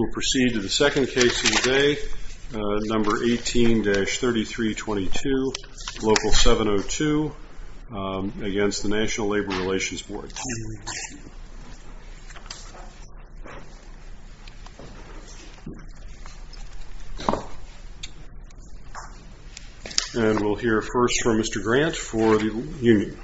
We'll proceed to the second case of the day, number 18-3322, Local 702, against the National Labor Relations Board. And we'll hear first from Mr. Grant for the union.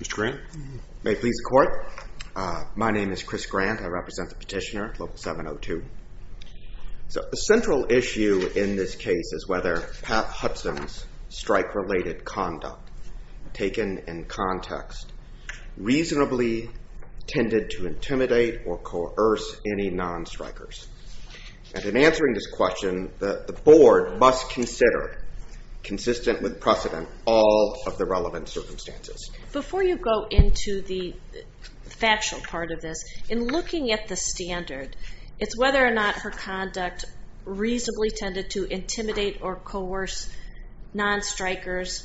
Mr. Grant, may it please the court. My name is Chris Grant. I represent the petitioner, Local 702. So the central issue in this case is whether Pat Hudson's strike-related conduct, taken in context, reasonably tended to intimidate or coerce any non-strikers. And in answering this question, the board must consider, consistent with precedent, all of the relevant circumstances. Before you go into the factual part of this, in looking at the standard, it's whether or not her conduct reasonably tended to intimidate or coerce non-strikers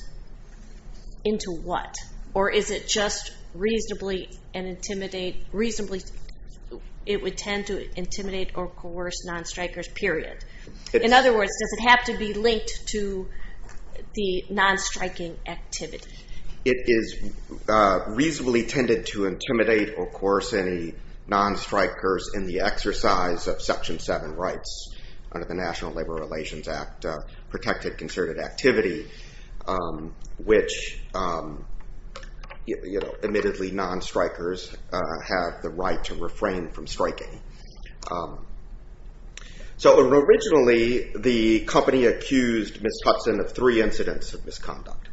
into what? Or is it just reasonably it would tend to intimidate or coerce non-strikers, period? In other words, does it have to be linked to the non-striking activity? It is reasonably tended to intimidate or coerce any non-strikers in the exercise of Section 7 rights under the National Labor Relations Act, protected concerted activity, which admittedly non-strikers have the right to refrain from striking. So originally, the company accused Ms. Hudson of three incidents of misconduct.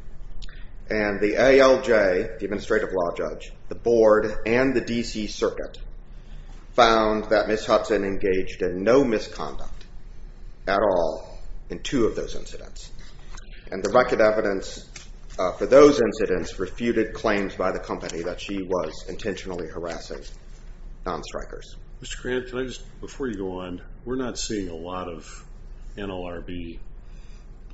And the ALJ, the administrative law judge, the board, and the DC circuit found that Ms. Hudson engaged in no misconduct at all in two of those incidents. And the record evidence for those incidents refuted claims by the company that she was intentionally harassing non-strikers. Mr. Grant, can I just, before you go on, we're not seeing a lot of NLRB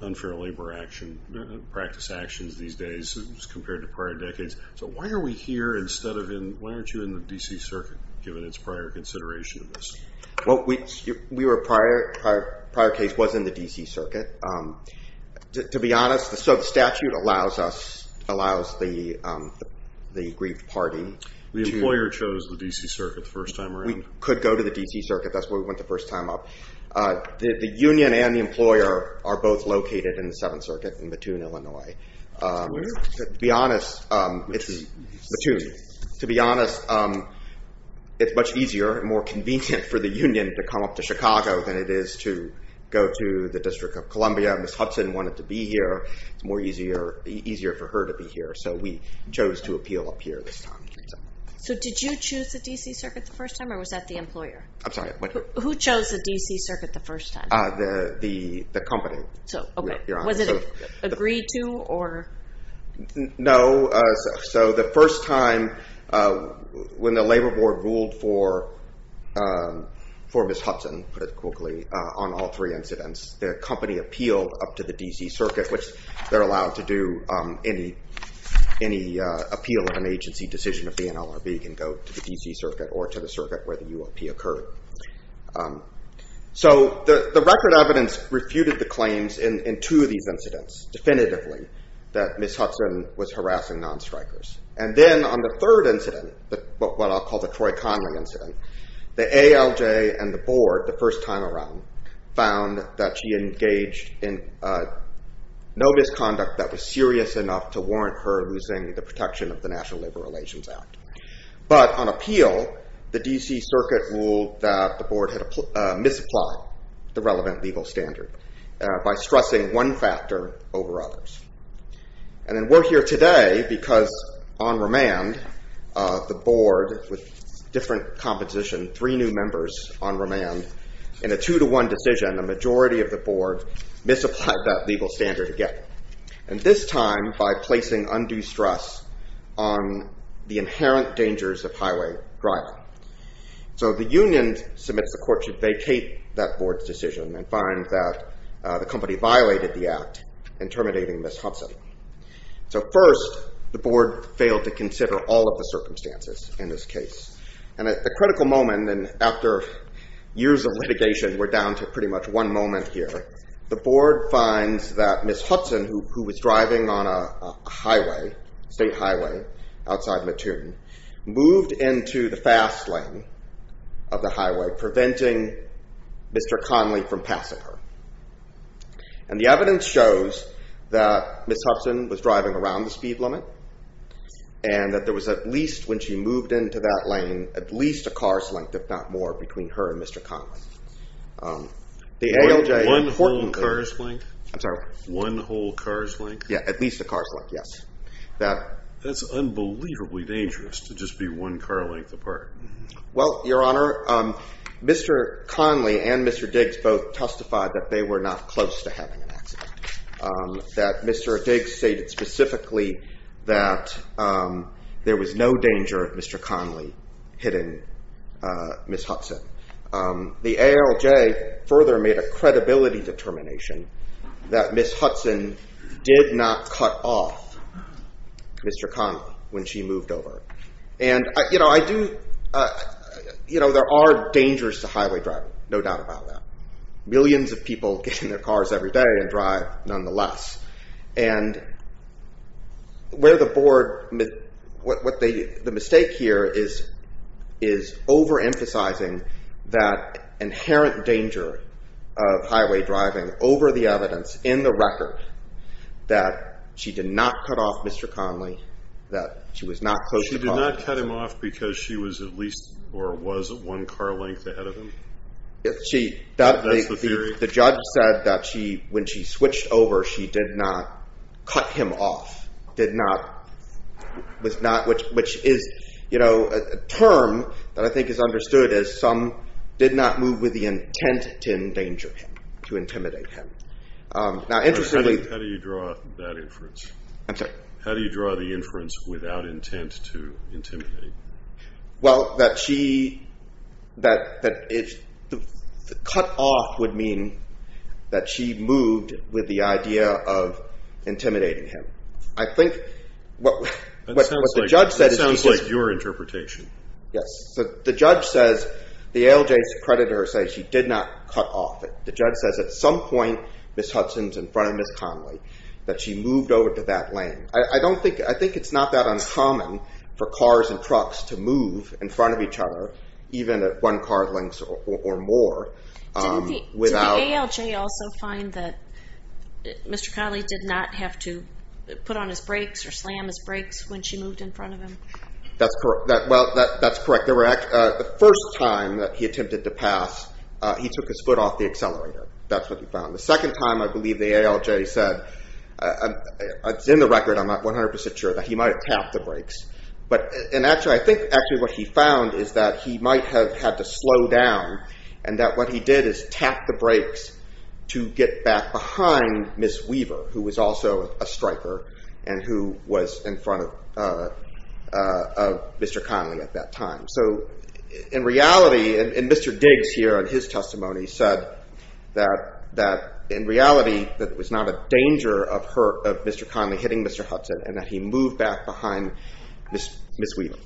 unfair labor action, practice actions these days, as compared to prior decades. So why are we here instead of in, why aren't you in the DC circuit, given its prior consideration of this? Well, we were prior, prior case was in the DC circuit. To be honest, so the statute allows us, allows the aggrieved party. The employer chose the DC circuit the first time around. We could go to the DC circuit, that's where we went the first time up. The union and the employer are both located in the Seventh Circuit in Mattoon, Illinois. To be honest, it's, Mattoon, to be honest, it's much easier and more convenient for the union to come up to Chicago than it is to go to the District of Columbia. Ms. Hudson wanted to be here, it's more easier, easier for her to be here. So we chose to appeal up here this time. So did you choose the DC circuit the first time, or was that the employer? I'm sorry, what? Who chose the DC circuit the first time? The company. So, okay. You're on. Was it agreed to, or? No, so the first time, when the labor board ruled for Ms. Hudson, to put it quickly, on all three incidents, the company appealed up to the DC circuit, which they're allowed to do, any appeal of an agency decision of the NLRB can go to the DC circuit or to the circuit where the URP occurred. So the record evidence refuted the claims in two of these incidents, definitively, that Ms. Hudson was harassing non-strikers. And then on the third incident, what I'll call the Troy Connery incident, the ALJ and in no misconduct that was serious enough to warrant her losing the protection of the National Labor Relations Act. But on appeal, the DC circuit ruled that the board had misapplied the relevant legal standard by stressing one factor over others. And then we're here today because, on remand, the board, with different composition, three new members on remand, in a two-to-one decision, a majority of the board misapplied that legal standard again. And this time, by placing undue stress on the inherent dangers of highway driving. So the union submits the court should vacate that board's decision and find that the company violated the act in terminating Ms. Hudson. So first, the board failed to consider all of the circumstances in this case. And at the critical moment, and after years of litigation, we're down to pretty much one moment here. The board finds that Ms. Hudson, who was driving on a state highway outside Mattoon, moved into the fast lane of the highway, preventing Mr. Conley from passing her. And the evidence shows that Ms. Hudson was driving around the speed limit, and that there was, in her lane, at least a car's length, if not more, between her and Mr. Conley. The ALJ... One whole car's length? I'm sorry? One whole car's length? Yeah, at least a car's length, yes. That's unbelievably dangerous, to just be one car length apart. Well, Your Honor, Mr. Conley and Mr. Diggs both testified that they were not close to having an accident. That Mr. Diggs stated specifically that there was no danger of Mr. Conley hitting Ms. Hudson. The ALJ further made a credibility determination that Ms. Hudson did not cut off Mr. Conley when she moved over. And there are dangers to highway driving, no doubt about that. Millions of people get in their cars every day and drive, nonetheless. And where the board... The mistake here is overemphasizing that inherent danger of highway driving over the evidence, in the record, that she did not cut off Mr. Conley, that she was not close to... She did not cut him off because she was at least, or was, one car length ahead of him? That's the theory? The judge said that when she switched over, she did not cut him off, which is a term that I think is understood as some did not move with the intent to endanger him, to intimidate him. Now, interestingly... How do you draw that inference? I'm sorry? How do you draw the inference without intent to intimidate? Well, that she... That cut off would mean that she moved with the idea of intimidating him. I think what the judge said is... That sounds like your interpretation. Yes. So the judge says, the ALJ's creditor says she did not cut off. The judge says at some point, Ms. Hudson's in front of Ms. Conley, that she moved over to that lane. I think it's not that uncommon for cars and trucks to move in front of each other, even at one car length or more. Did the ALJ also find that Mr. Conley did not have to put on his brakes or slam his brakes when she moved in front of him? That's correct. Well, that's correct. The first time that he attempted to pass, he took his foot off the accelerator. That's what he found. The second time, I believe the ALJ said, it's in the record, I'm not 100% sure, that he might have tapped the brakes. And actually, I think actually what he found is that he might have had to slow down and that what he did is tap the brakes to get back behind Ms. Weaver, who was also a striker and who was in front of Mr. Conley at that time. So in reality, and Mr. Diggs here, in his testimony, said that in reality, that it was not a danger of Mr. Conley hitting Mr. Hudson and that he moved back behind Ms. Weaver.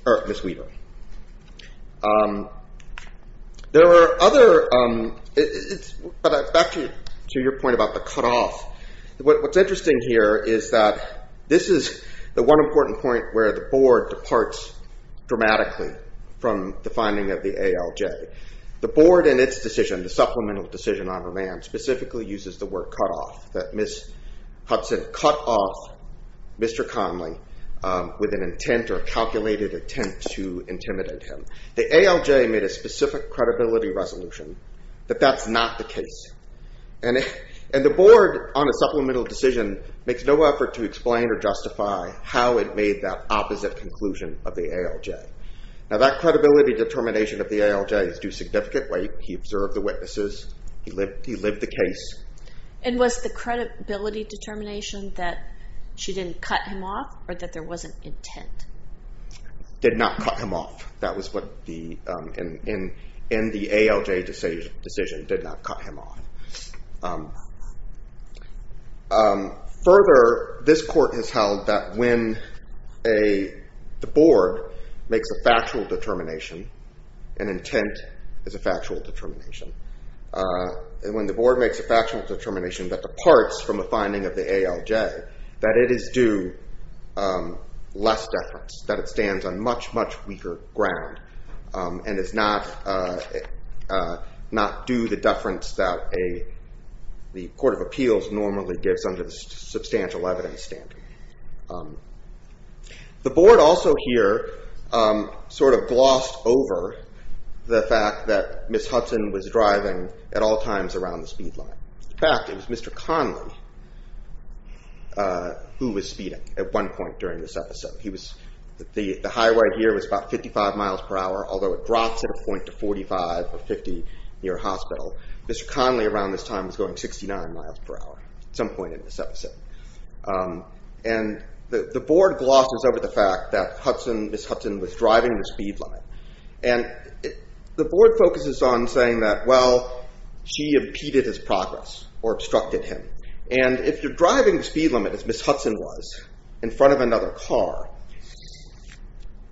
There were other, back to your point about the cutoff. What's interesting here is that this is the one important point where the board departs dramatically from the finding of the ALJ. The board in its decision, the supplemental decision on remand, specifically uses the word cutoff, that Ms. Hudson cut off Mr. Conley with an intent or calculated attempt to intimidate him. The ALJ made a specific credibility resolution that that's not the case. And the board on a supplemental decision makes no effort to explain or justify how it made that opposite conclusion of the ALJ. Now that credibility determination of the ALJ is due significantly. He observed the witnesses. He lived the case. And was the credibility determination that she didn't cut him off or that there was an intent? Did not cut him off. That was what the, in the ALJ decision, did not cut him off. Further, this court has held that when a, the board makes a factual determination, an intent is a factual determination. And when the board makes a factual determination that departs from a finding of the ALJ, that it is due less deference. That it stands on much, much weaker ground. And is not due the deference that a, the court of appeals normally gives under the substantial evidence standard. The board also here sort of glossed over the fact that Ms. Hudson was driving at all times around the speed line. In fact, it was Mr. Conley who was speeding at one point during this episode. He was, the highway here was about 55 miles per hour, although it drops at a point to 45 or 50 near a hospital. Mr. Conley around this time was going 69 miles per hour at some point in this episode. And the board glosses over the fact that Hudson, Ms. Hudson was driving the speed line. And the board focuses on saying that, well, she impeded his progress or obstructed him. And if you're driving the speed limit as Ms. Hudson was in front of another car,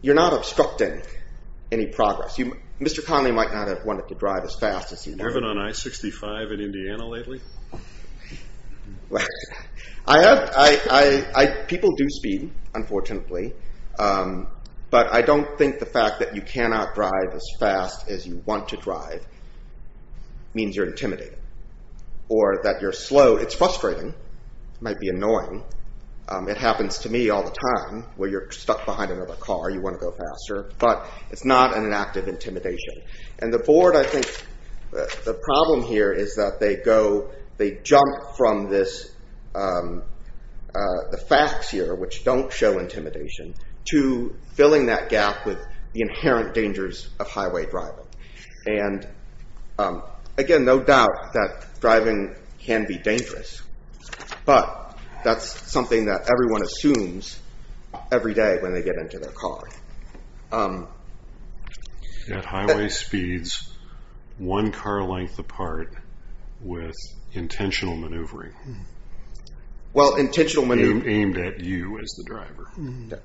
you're not obstructing any progress. You, Mr. Conley might not have wanted to drive as fast as he wanted. Have you been on I-65 in Indiana lately? Well, I have, I, I, I, people do speed, unfortunately. But I don't think the fact that you cannot drive as fast as you want to drive means you're intimidated. Or that you're slow, it's frustrating, might be annoying. It happens to me all the time where you're stuck behind another car, you want to go faster. But it's not an act of intimidation. And the board, I think, the problem here is that they go, they jump from this, the facts here which don't show intimidation to filling that gap with the inherent dangers of highway driving. And again, no doubt that driving can be dangerous. But that's something that everyone assumes every day when they get into their car. At highway speeds, one car length apart with intentional maneuvering. Well, intentional maneuvering. Aimed at you as the driver.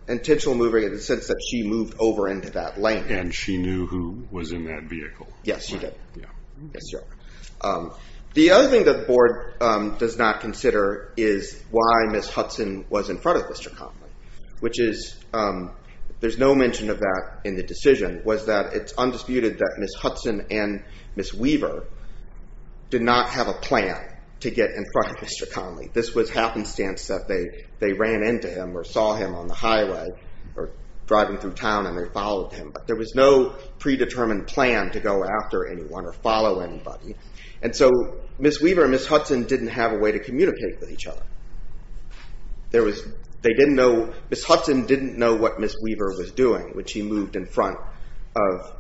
Intentional maneuvering in the sense that she moved over into that lane. And she knew who was in that vehicle. Yes, she did. Yes, sir. The other thing that the board does not consider is why Ms. Hudson was in front of Mr. Connelly. Which is, there's no mention of that in the decision. Was that it's undisputed that Ms. Hudson and Ms. Weaver did not have a plan to get in front of Mr. Connelly. This was happenstance that they, they ran into him or saw him on the highway. Or driving through town and they followed him. There was no predetermined plan to go after anyone or follow anybody. And so, Ms. Weaver and Ms. Hudson didn't have a way to communicate with each other. There was, they didn't know, Ms. Hudson didn't know what Ms. Weaver was doing when she moved in front of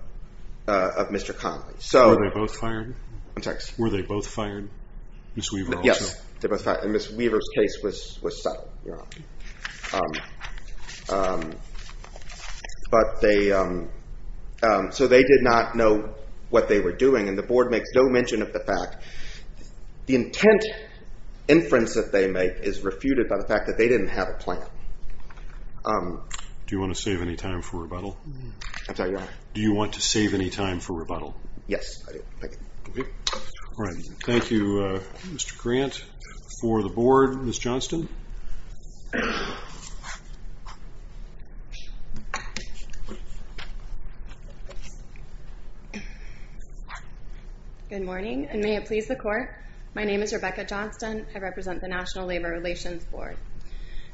Mr. Connelly. So. Were they both fired? I'm sorry. Were they both fired? Ms. Weaver also? Yes, they were both fired. And Ms. Weaver's case was, was settled, you're right. But they, so they did not know what they were doing. And the board makes no mention of the fact, the intent inference that they make is refuted by the fact that they didn't have a plan. Do you want to save any time for rebuttal? I'm sorry, your honor. Do you want to save any time for rebuttal? Yes, I do. Thank you. All right. Thank you, Mr. Grant. For the board, Ms. Johnston. Good morning, and may it please the court. My name is Rebecca Johnston. I represent the National Labor Relations Board.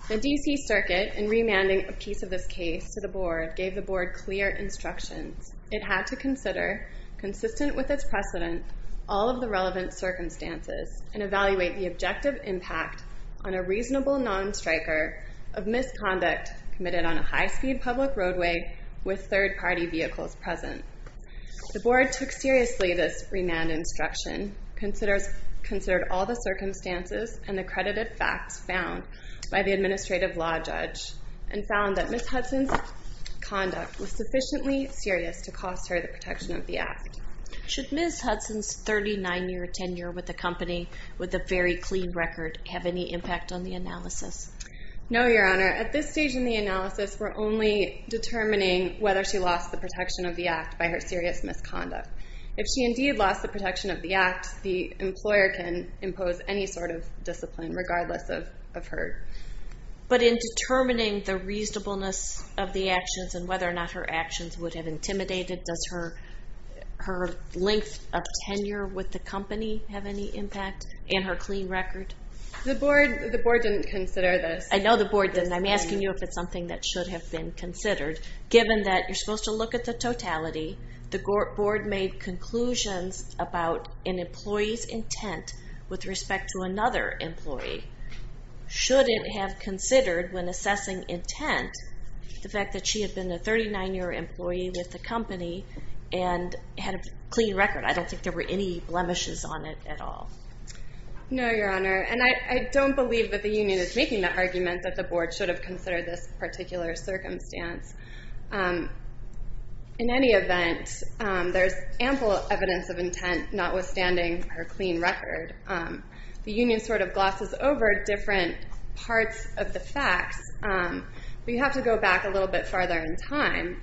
The DC Circuit, in remanding a piece of this case to the board, gave the board clear instructions. It had to consider, consistent with its precedent, all of the relevant circumstances, and evaluate the objective impact on a reasonable non-striker of misconduct committed on a high-speed public roadway with third-party vehicles present. The board took seriously this remand instruction, considered all the circumstances and accredited facts found by the administrative law judge, and found that Ms. Hudson's conduct was sufficiently serious to cost her the protection of the act. Should Ms. Hudson's 39-year tenure with the company, with a very clean record, have any impact on the analysis? No, Your Honor. At this stage in the analysis, we're only determining whether she lost the protection of the act by her serious misconduct. If she indeed lost the protection of the act, the employer can impose any sort of discipline, regardless of her. But in determining the reasonableness of the actions, and whether or not her actions would have intimidated, does her length of tenure with the company have any impact, and her clean record? The board didn't consider this. I know the board didn't. I'm asking you if it's something that should have been considered, given that you're supposed to look at the totality. The board made conclusions about an employee's intent with respect to another employee. Should it have considered, when assessing intent, the fact that she had been a 39-year employee with the company, and had a clean record? I don't think there were any blemishes on it at all. No, Your Honor. And I don't believe that the union is making the argument that the board should have considered this particular circumstance. In any event, there's ample evidence of intent, notwithstanding her clean record. The union sort of glosses over different parts of the facts. We have to go back a little bit farther in time.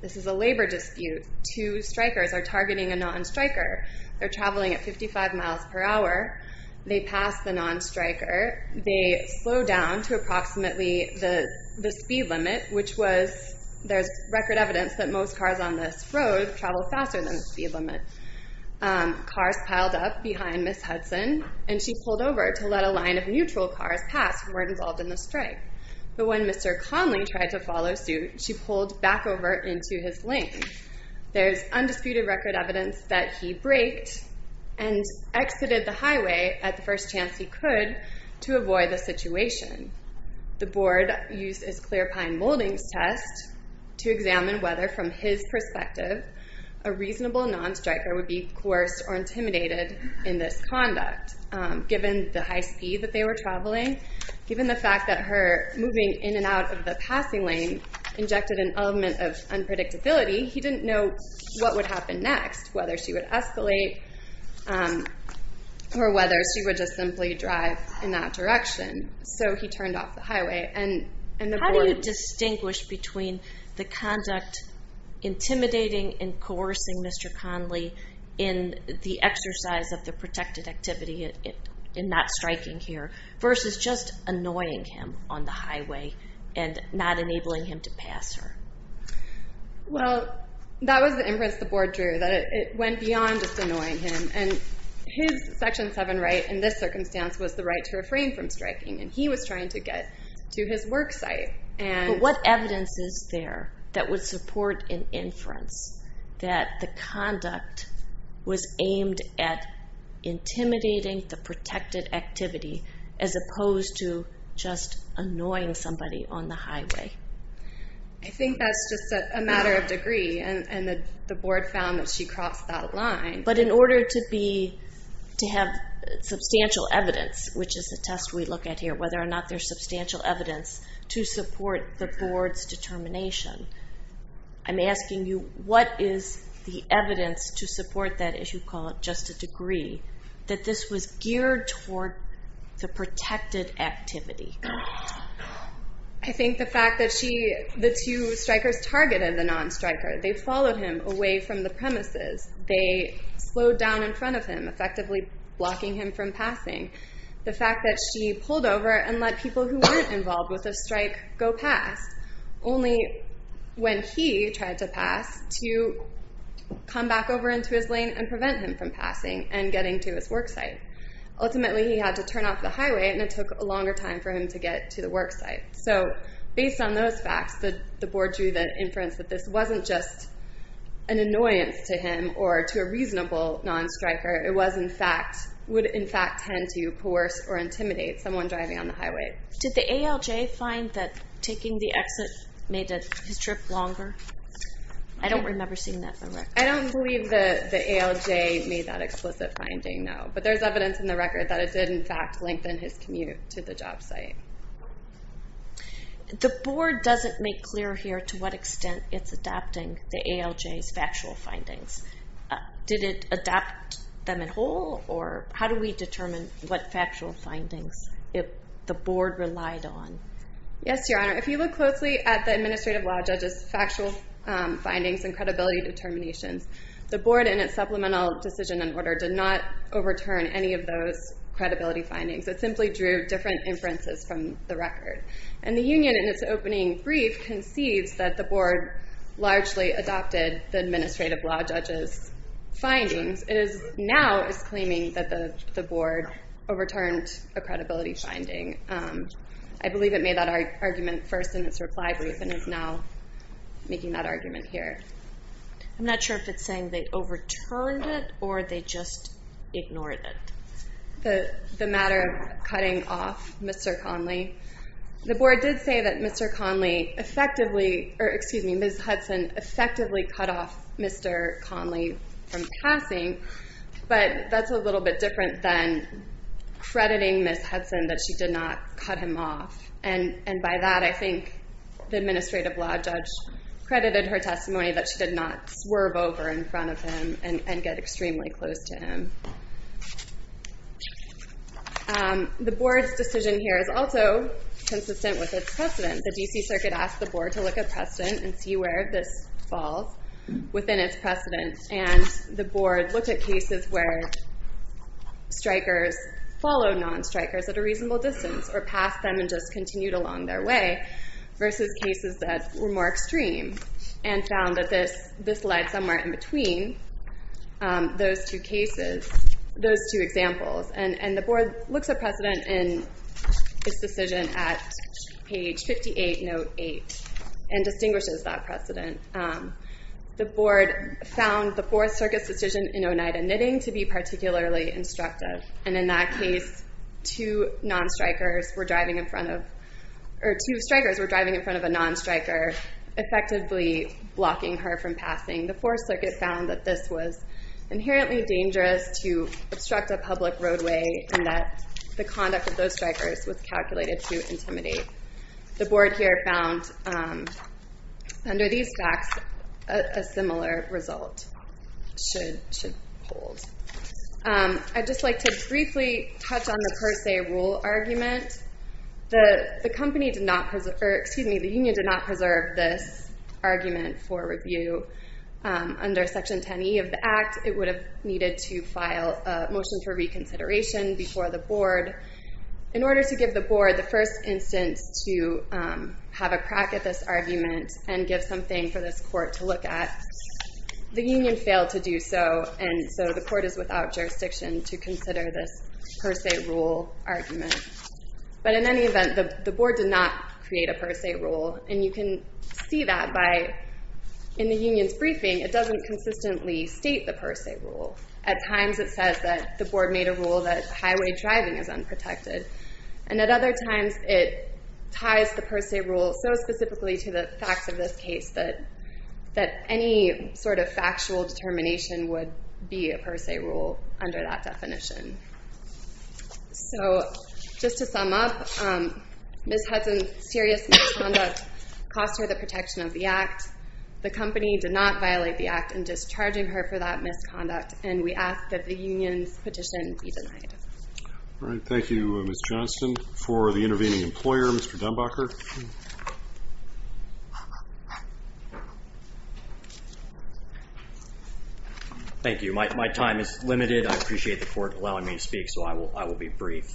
This is a labor dispute. Two strikers are targeting a non-striker. They're traveling at 55 miles per hour. They pass the non-striker. They slow down to approximately the speed limit, which was, there's record evidence that most cars on this road travel faster than the speed limit. Cars piled up behind Ms. Hudson, and she pulled over to let a line of neutral cars pass who weren't involved in the strike. But when Mr. Conley tried to follow suit, she pulled back over into his lane. There's undisputed record evidence that he braked and exited the highway at the first chance he could to avoid the situation. The board used its clear pine moldings test to examine whether, from his perspective, a reasonable non-striker would be coerced or intimidated in this conduct, given the high speed that they were traveling, given the fact that her moving in and out of the passing lane injected an element of unpredictability, he didn't know what would happen next, whether she would escalate or whether she would just simply drive in that direction. So he turned off the highway and the board- How do you distinguish between the conduct intimidating and coercing Mr. Conley in the exercise of the protected activity and not striking here, versus just annoying him on the highway and not enabling him to pass her? Well, that was the inference the board drew, that it went beyond just annoying him. And his Section 7 right in this circumstance was the right to refrain from striking, and he was trying to get to his work site, and- But what evidence is there that would support an inference that the conduct was aimed at intimidating the protected activity, as opposed to just annoying somebody on the highway? I think that's just a matter of degree, and the board found that she crossed that line. But in order to have substantial evidence, which is the test we look at here, whether or not there's substantial evidence to support the board's determination, I'm asking you, what is the evidence to support that, as you call it, just a degree, that this was geared toward the protected activity? I think the fact that she, the two strikers targeted the non-striker. They followed him away from the premises. They slowed down in front of him, effectively blocking him from passing. The fact that she pulled over and let people who weren't involved with a strike go past. Only when he tried to pass, to come back over into his lane and prevent him from passing and getting to his work site. Ultimately, he had to turn off the highway, and it took a longer time for him to get to the work site. So, based on those facts, the board drew the inference that this wasn't just an annoyance to him or to a reasonable non-striker. It was, in fact, would, in fact, tend to coerce or intimidate someone driving on the highway. Did the ALJ find that taking the exit made his trip longer? I don't remember seeing that on record. I don't believe the ALJ made that explicit finding, no. But there's evidence in the record that it did, in fact, lengthen his commute to the job site. The board doesn't make clear here to what extent it's adopting the ALJ's factual findings. Did it adopt them in whole, or how do we determine what factual findings the board relied on? Yes, Your Honor. If you look closely at the administrative law judge's factual findings and credibility determinations, the board, in its supplemental decision in order, did not overturn any of those credibility findings. It simply drew different inferences from the record. And the union, in its opening brief, concedes that the board largely adopted the administrative law judge's findings. It now is claiming that the board overturned a credibility finding. I believe it made that argument first in its reply brief, and is now making that argument here. I'm not sure if it's saying they overturned it, or they just ignored it. The matter of cutting off Mr. Conley. The board did say that Mr. Conley effectively, or excuse me, Ms. Hudson effectively cut off Mr. Conley from passing. But that's a little bit different than crediting Ms. Hudson that she did not cut him off. And by that, I think the administrative law judge credited her testimony that she did not swerve over in front of him and get extremely close to him. The board's decision here is also consistent with its precedent. The D.C. Circuit asked the board to look at precedent and see where this falls within its precedent. And the board looked at cases where strikers followed non-strikers at a reasonable distance, or passed them and just continued along their way, versus cases that were more extreme, and found that this lied somewhere in between those two cases, those two examples. And the board looks at precedent in this decision at page 58, note 8, and distinguishes that precedent. The board found the Fourth Circuit's decision in Oneida knitting to be particularly instructive. And in that case, two strikers were driving in front of a non-striker, effectively blocking her from passing. The Fourth Circuit found that this was inherently dangerous to obstruct a public roadway, and that the conduct of those strikers was calculated to intimidate. The board here found, under these facts, a similar result should hold. I'd just like to briefly touch on the per se rule argument. The union did not preserve this argument for review. Under Section 10E of the Act, it would have needed to file a motion for reconsideration before the board. In order to give the board the first instance to have a crack at this argument, and give something for this court to look at, the union failed to do so. And so the court is without jurisdiction to consider this per se rule argument. But in any event, the board did not create a per se rule. And you can see that by, in the union's briefing, it doesn't consistently state the per se rule. At times, it says that the board made a rule that highway driving is unprotected. And at other times, it ties the per se rule so specifically to the facts of this case that any sort of factual determination would be a per se rule under that definition. So, just to sum up, Ms. Hudson's serious misconduct cost her the protection of the Act. The company did not violate the Act in discharging her for that misconduct. And we ask that the union's petition be denied. All right, thank you, Ms. Johnston. For the intervening employer, Mr. Dunbacher. Thank you. My time is limited. I appreciate the court allowing me to speak, so I will be brief.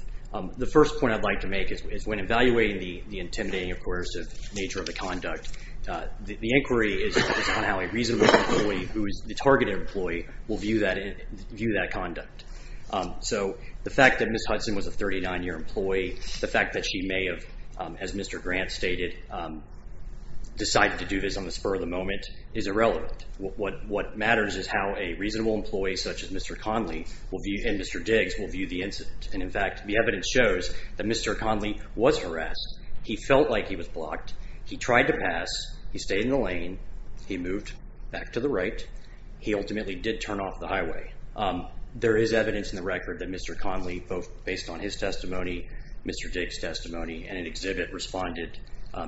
The first point I'd like to make is when evaluating the intimidating or coercive nature of the conduct, the inquiry is on how a reasonable employee, who is the targeted employee, will view that conduct. So, the fact that Ms. Hudson was a 39-year employee, the fact that she may have, as Mr. Grant stated, decided to do this on the spur of the moment, is irrelevant. What matters is how a reasonable employee such as Mr. Conley and Mr. Diggs will view the incident. And in fact, the evidence shows that Mr. Conley was harassed. He felt like he was blocked. He tried to pass. He stayed in the lane. He moved back to the right. He ultimately did turn off the highway. There is evidence in the record that Mr. Conley, both based on his testimony, Mr. Diggs' testimony, and an exhibit responded,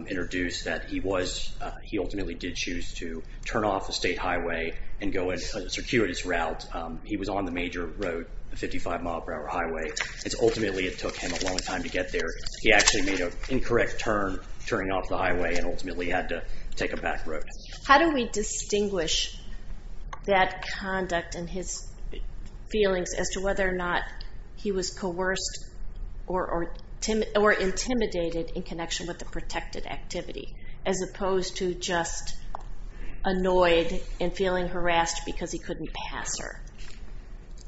introduced that he was, he ultimately did choose to turn off the state highway and go in a circuitous route. He was on the major road, the 55-mile-per-hour highway. It's ultimately, it took him a long time to get there. He actually made an incorrect turn, turning off the highway, and ultimately had to take a back road. How do we distinguish that conduct and his feelings as to whether or not he was coerced or intimidated in connection with the protected activity, as opposed to just annoyed and feeling harassed because he couldn't pass her?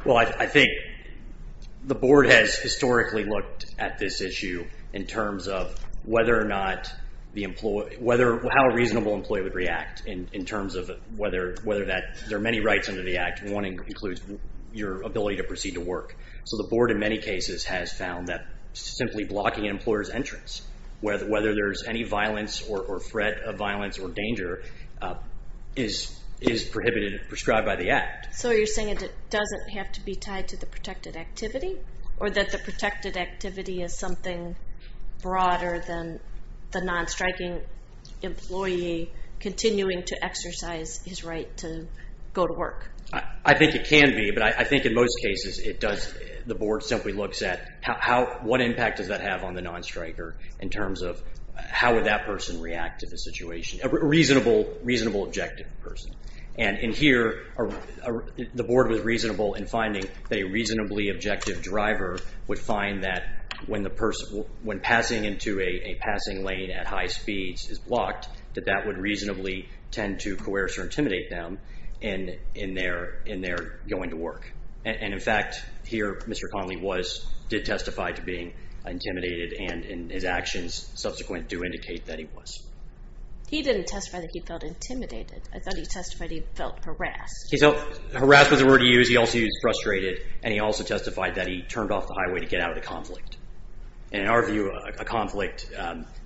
Well, I think the board has historically looked at this issue in terms of whether or not the employee, whether, how a reasonable employee would react in terms of whether that, there are many rights under the act, one includes your ability to proceed to work. So the board, in many cases, has found that simply blocking an employer's entrance, whether there's any violence or threat of violence or danger, is prohibited, prescribed by the act. So you're saying it doesn't have to be tied to the protected activity, or that the protected activity is something broader than the non-striking employee continuing to exercise his right to go to work? I think it can be, but I think in most cases it does, the board simply looks at how, what impact does that have on the non-striker, in terms of how would that person react to the situation? A reasonable, reasonable objective person. And in here, the board was reasonable in finding that a reasonably objective driver would find that when the person, when passing into a passing lane at high speeds is blocked, that that would reasonably tend to coerce or intimidate them in their going to work. And in fact, here, Mr. Conley did testify to being intimidated, and his actions subsequent do indicate that he was. He didn't testify that he felt intimidated. I thought he testified he felt harassed. He felt harassed was the word he used. He also used frustrated, and he also testified that he turned off the highway to get out of the conflict. And in our view, a conflict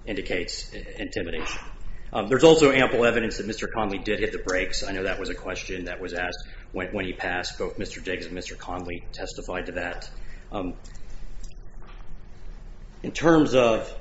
indicates intimidation. There's also ample evidence that Mr. Conley did hit the brakes. I know that was a question that was asked when he passed, both Mr. Diggs and Mr. Conley testified to that. In terms of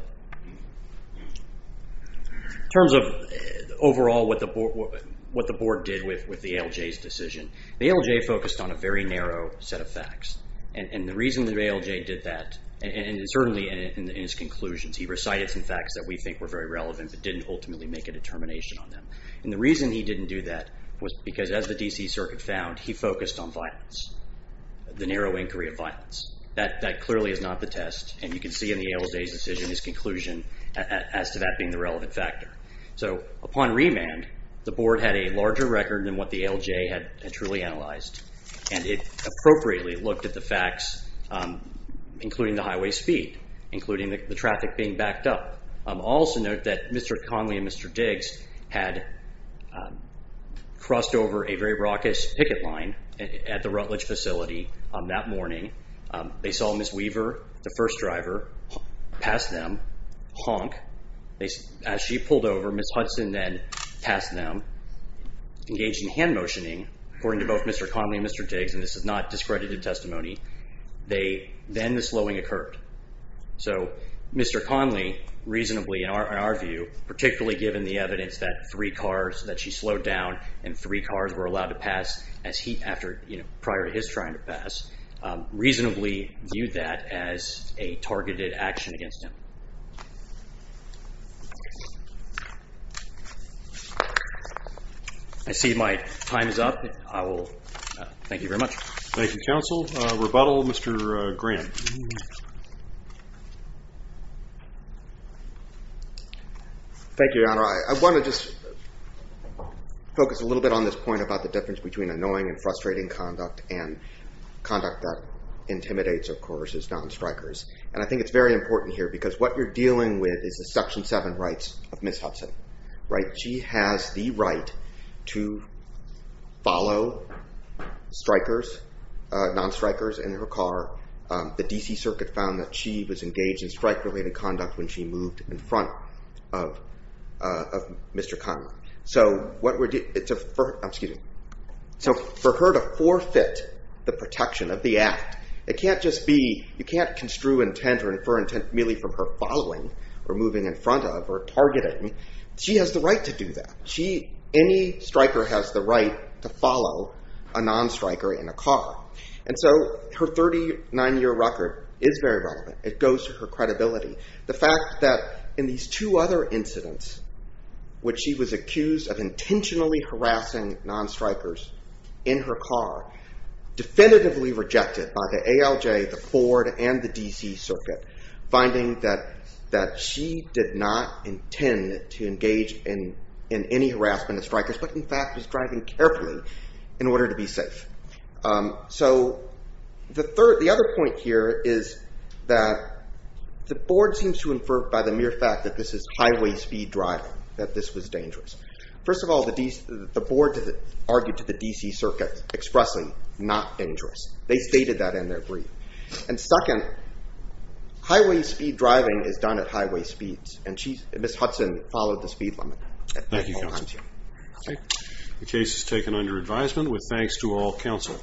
overall what the board did with the ALJ's decision, the ALJ focused on a very narrow set of facts. And the reason the ALJ did that, and certainly in his conclusions, he recited some facts that we think were very relevant, but didn't ultimately make a determination on them. And the reason he didn't do that was because, as the D.C. Circuit found, he focused on violence, the narrow inquiry of violence. That clearly is not the test, and you can see in the ALJ's decision, his conclusion as to that being the relevant factor. So upon remand, the board had a larger record than what the ALJ had truly analyzed, and it appropriately looked at the facts, including the highway speed, including the traffic being backed up. Also note that Mr. Conley and Mr. Diggs had crossed over a very raucous picket line at the Rutledge facility that morning. They saw Ms. Weaver, the first driver, pass them, honk. As she pulled over, Ms. Hudson then passed them, engaged in hand motioning, according to both Mr. Conley and Mr. Diggs, and this is not discredited testimony, then the slowing occurred. So Mr. Conley reasonably, in our view, particularly given the evidence that three cars, that she slowed down and three cars were allowed to pass as he, prior to his trying to pass, reasonably viewed that as a targeted action against him. I see my time is up. I will, thank you very much. Thank you, counsel. Rebuttal, Mr. Grant. Thank you, Your Honor. I want to just focus a little bit on this point about the difference between annoying and frustrating conduct and conduct that intimidates, of course, is non-strikers. And I think it's very important here because what you're dealing with is the Section 7 rights of Ms. Hudson, right? She has the right to follow strikers, non-strikers in her car. The D.C. Circuit found that she was engaged in strike-related conduct when she moved in front of Mr. Conley. So for her to forfeit the protection of the act, it can't just be, you can't construe intent or infer intent merely from her following or moving in front of or targeting. She has the right to do that. Any striker has the right to follow a non-striker in a car. And so her 39-year record is very relevant. It goes to her credibility. The fact that in these two other incidents when she was accused of intentionally harassing non-strikers in her car, definitively rejected by the ALJ, the Ford, and the D.C. Circuit, finding that she did not intend to engage in any harassment of strikers, but in fact was driving carefully in order to be safe. So the third, the other point here is that the board seems to infer by the mere fact that this is highway speed driving, that this was dangerous. First of all, the board argued to the D.C. Circuit expressing not dangerous. They stated that in their brief. And second, highway speed driving is done at highway speeds. And Ms. Hudson followed the speed limit at the whole time, too. The case is taken under advisement with thanks to all counsel.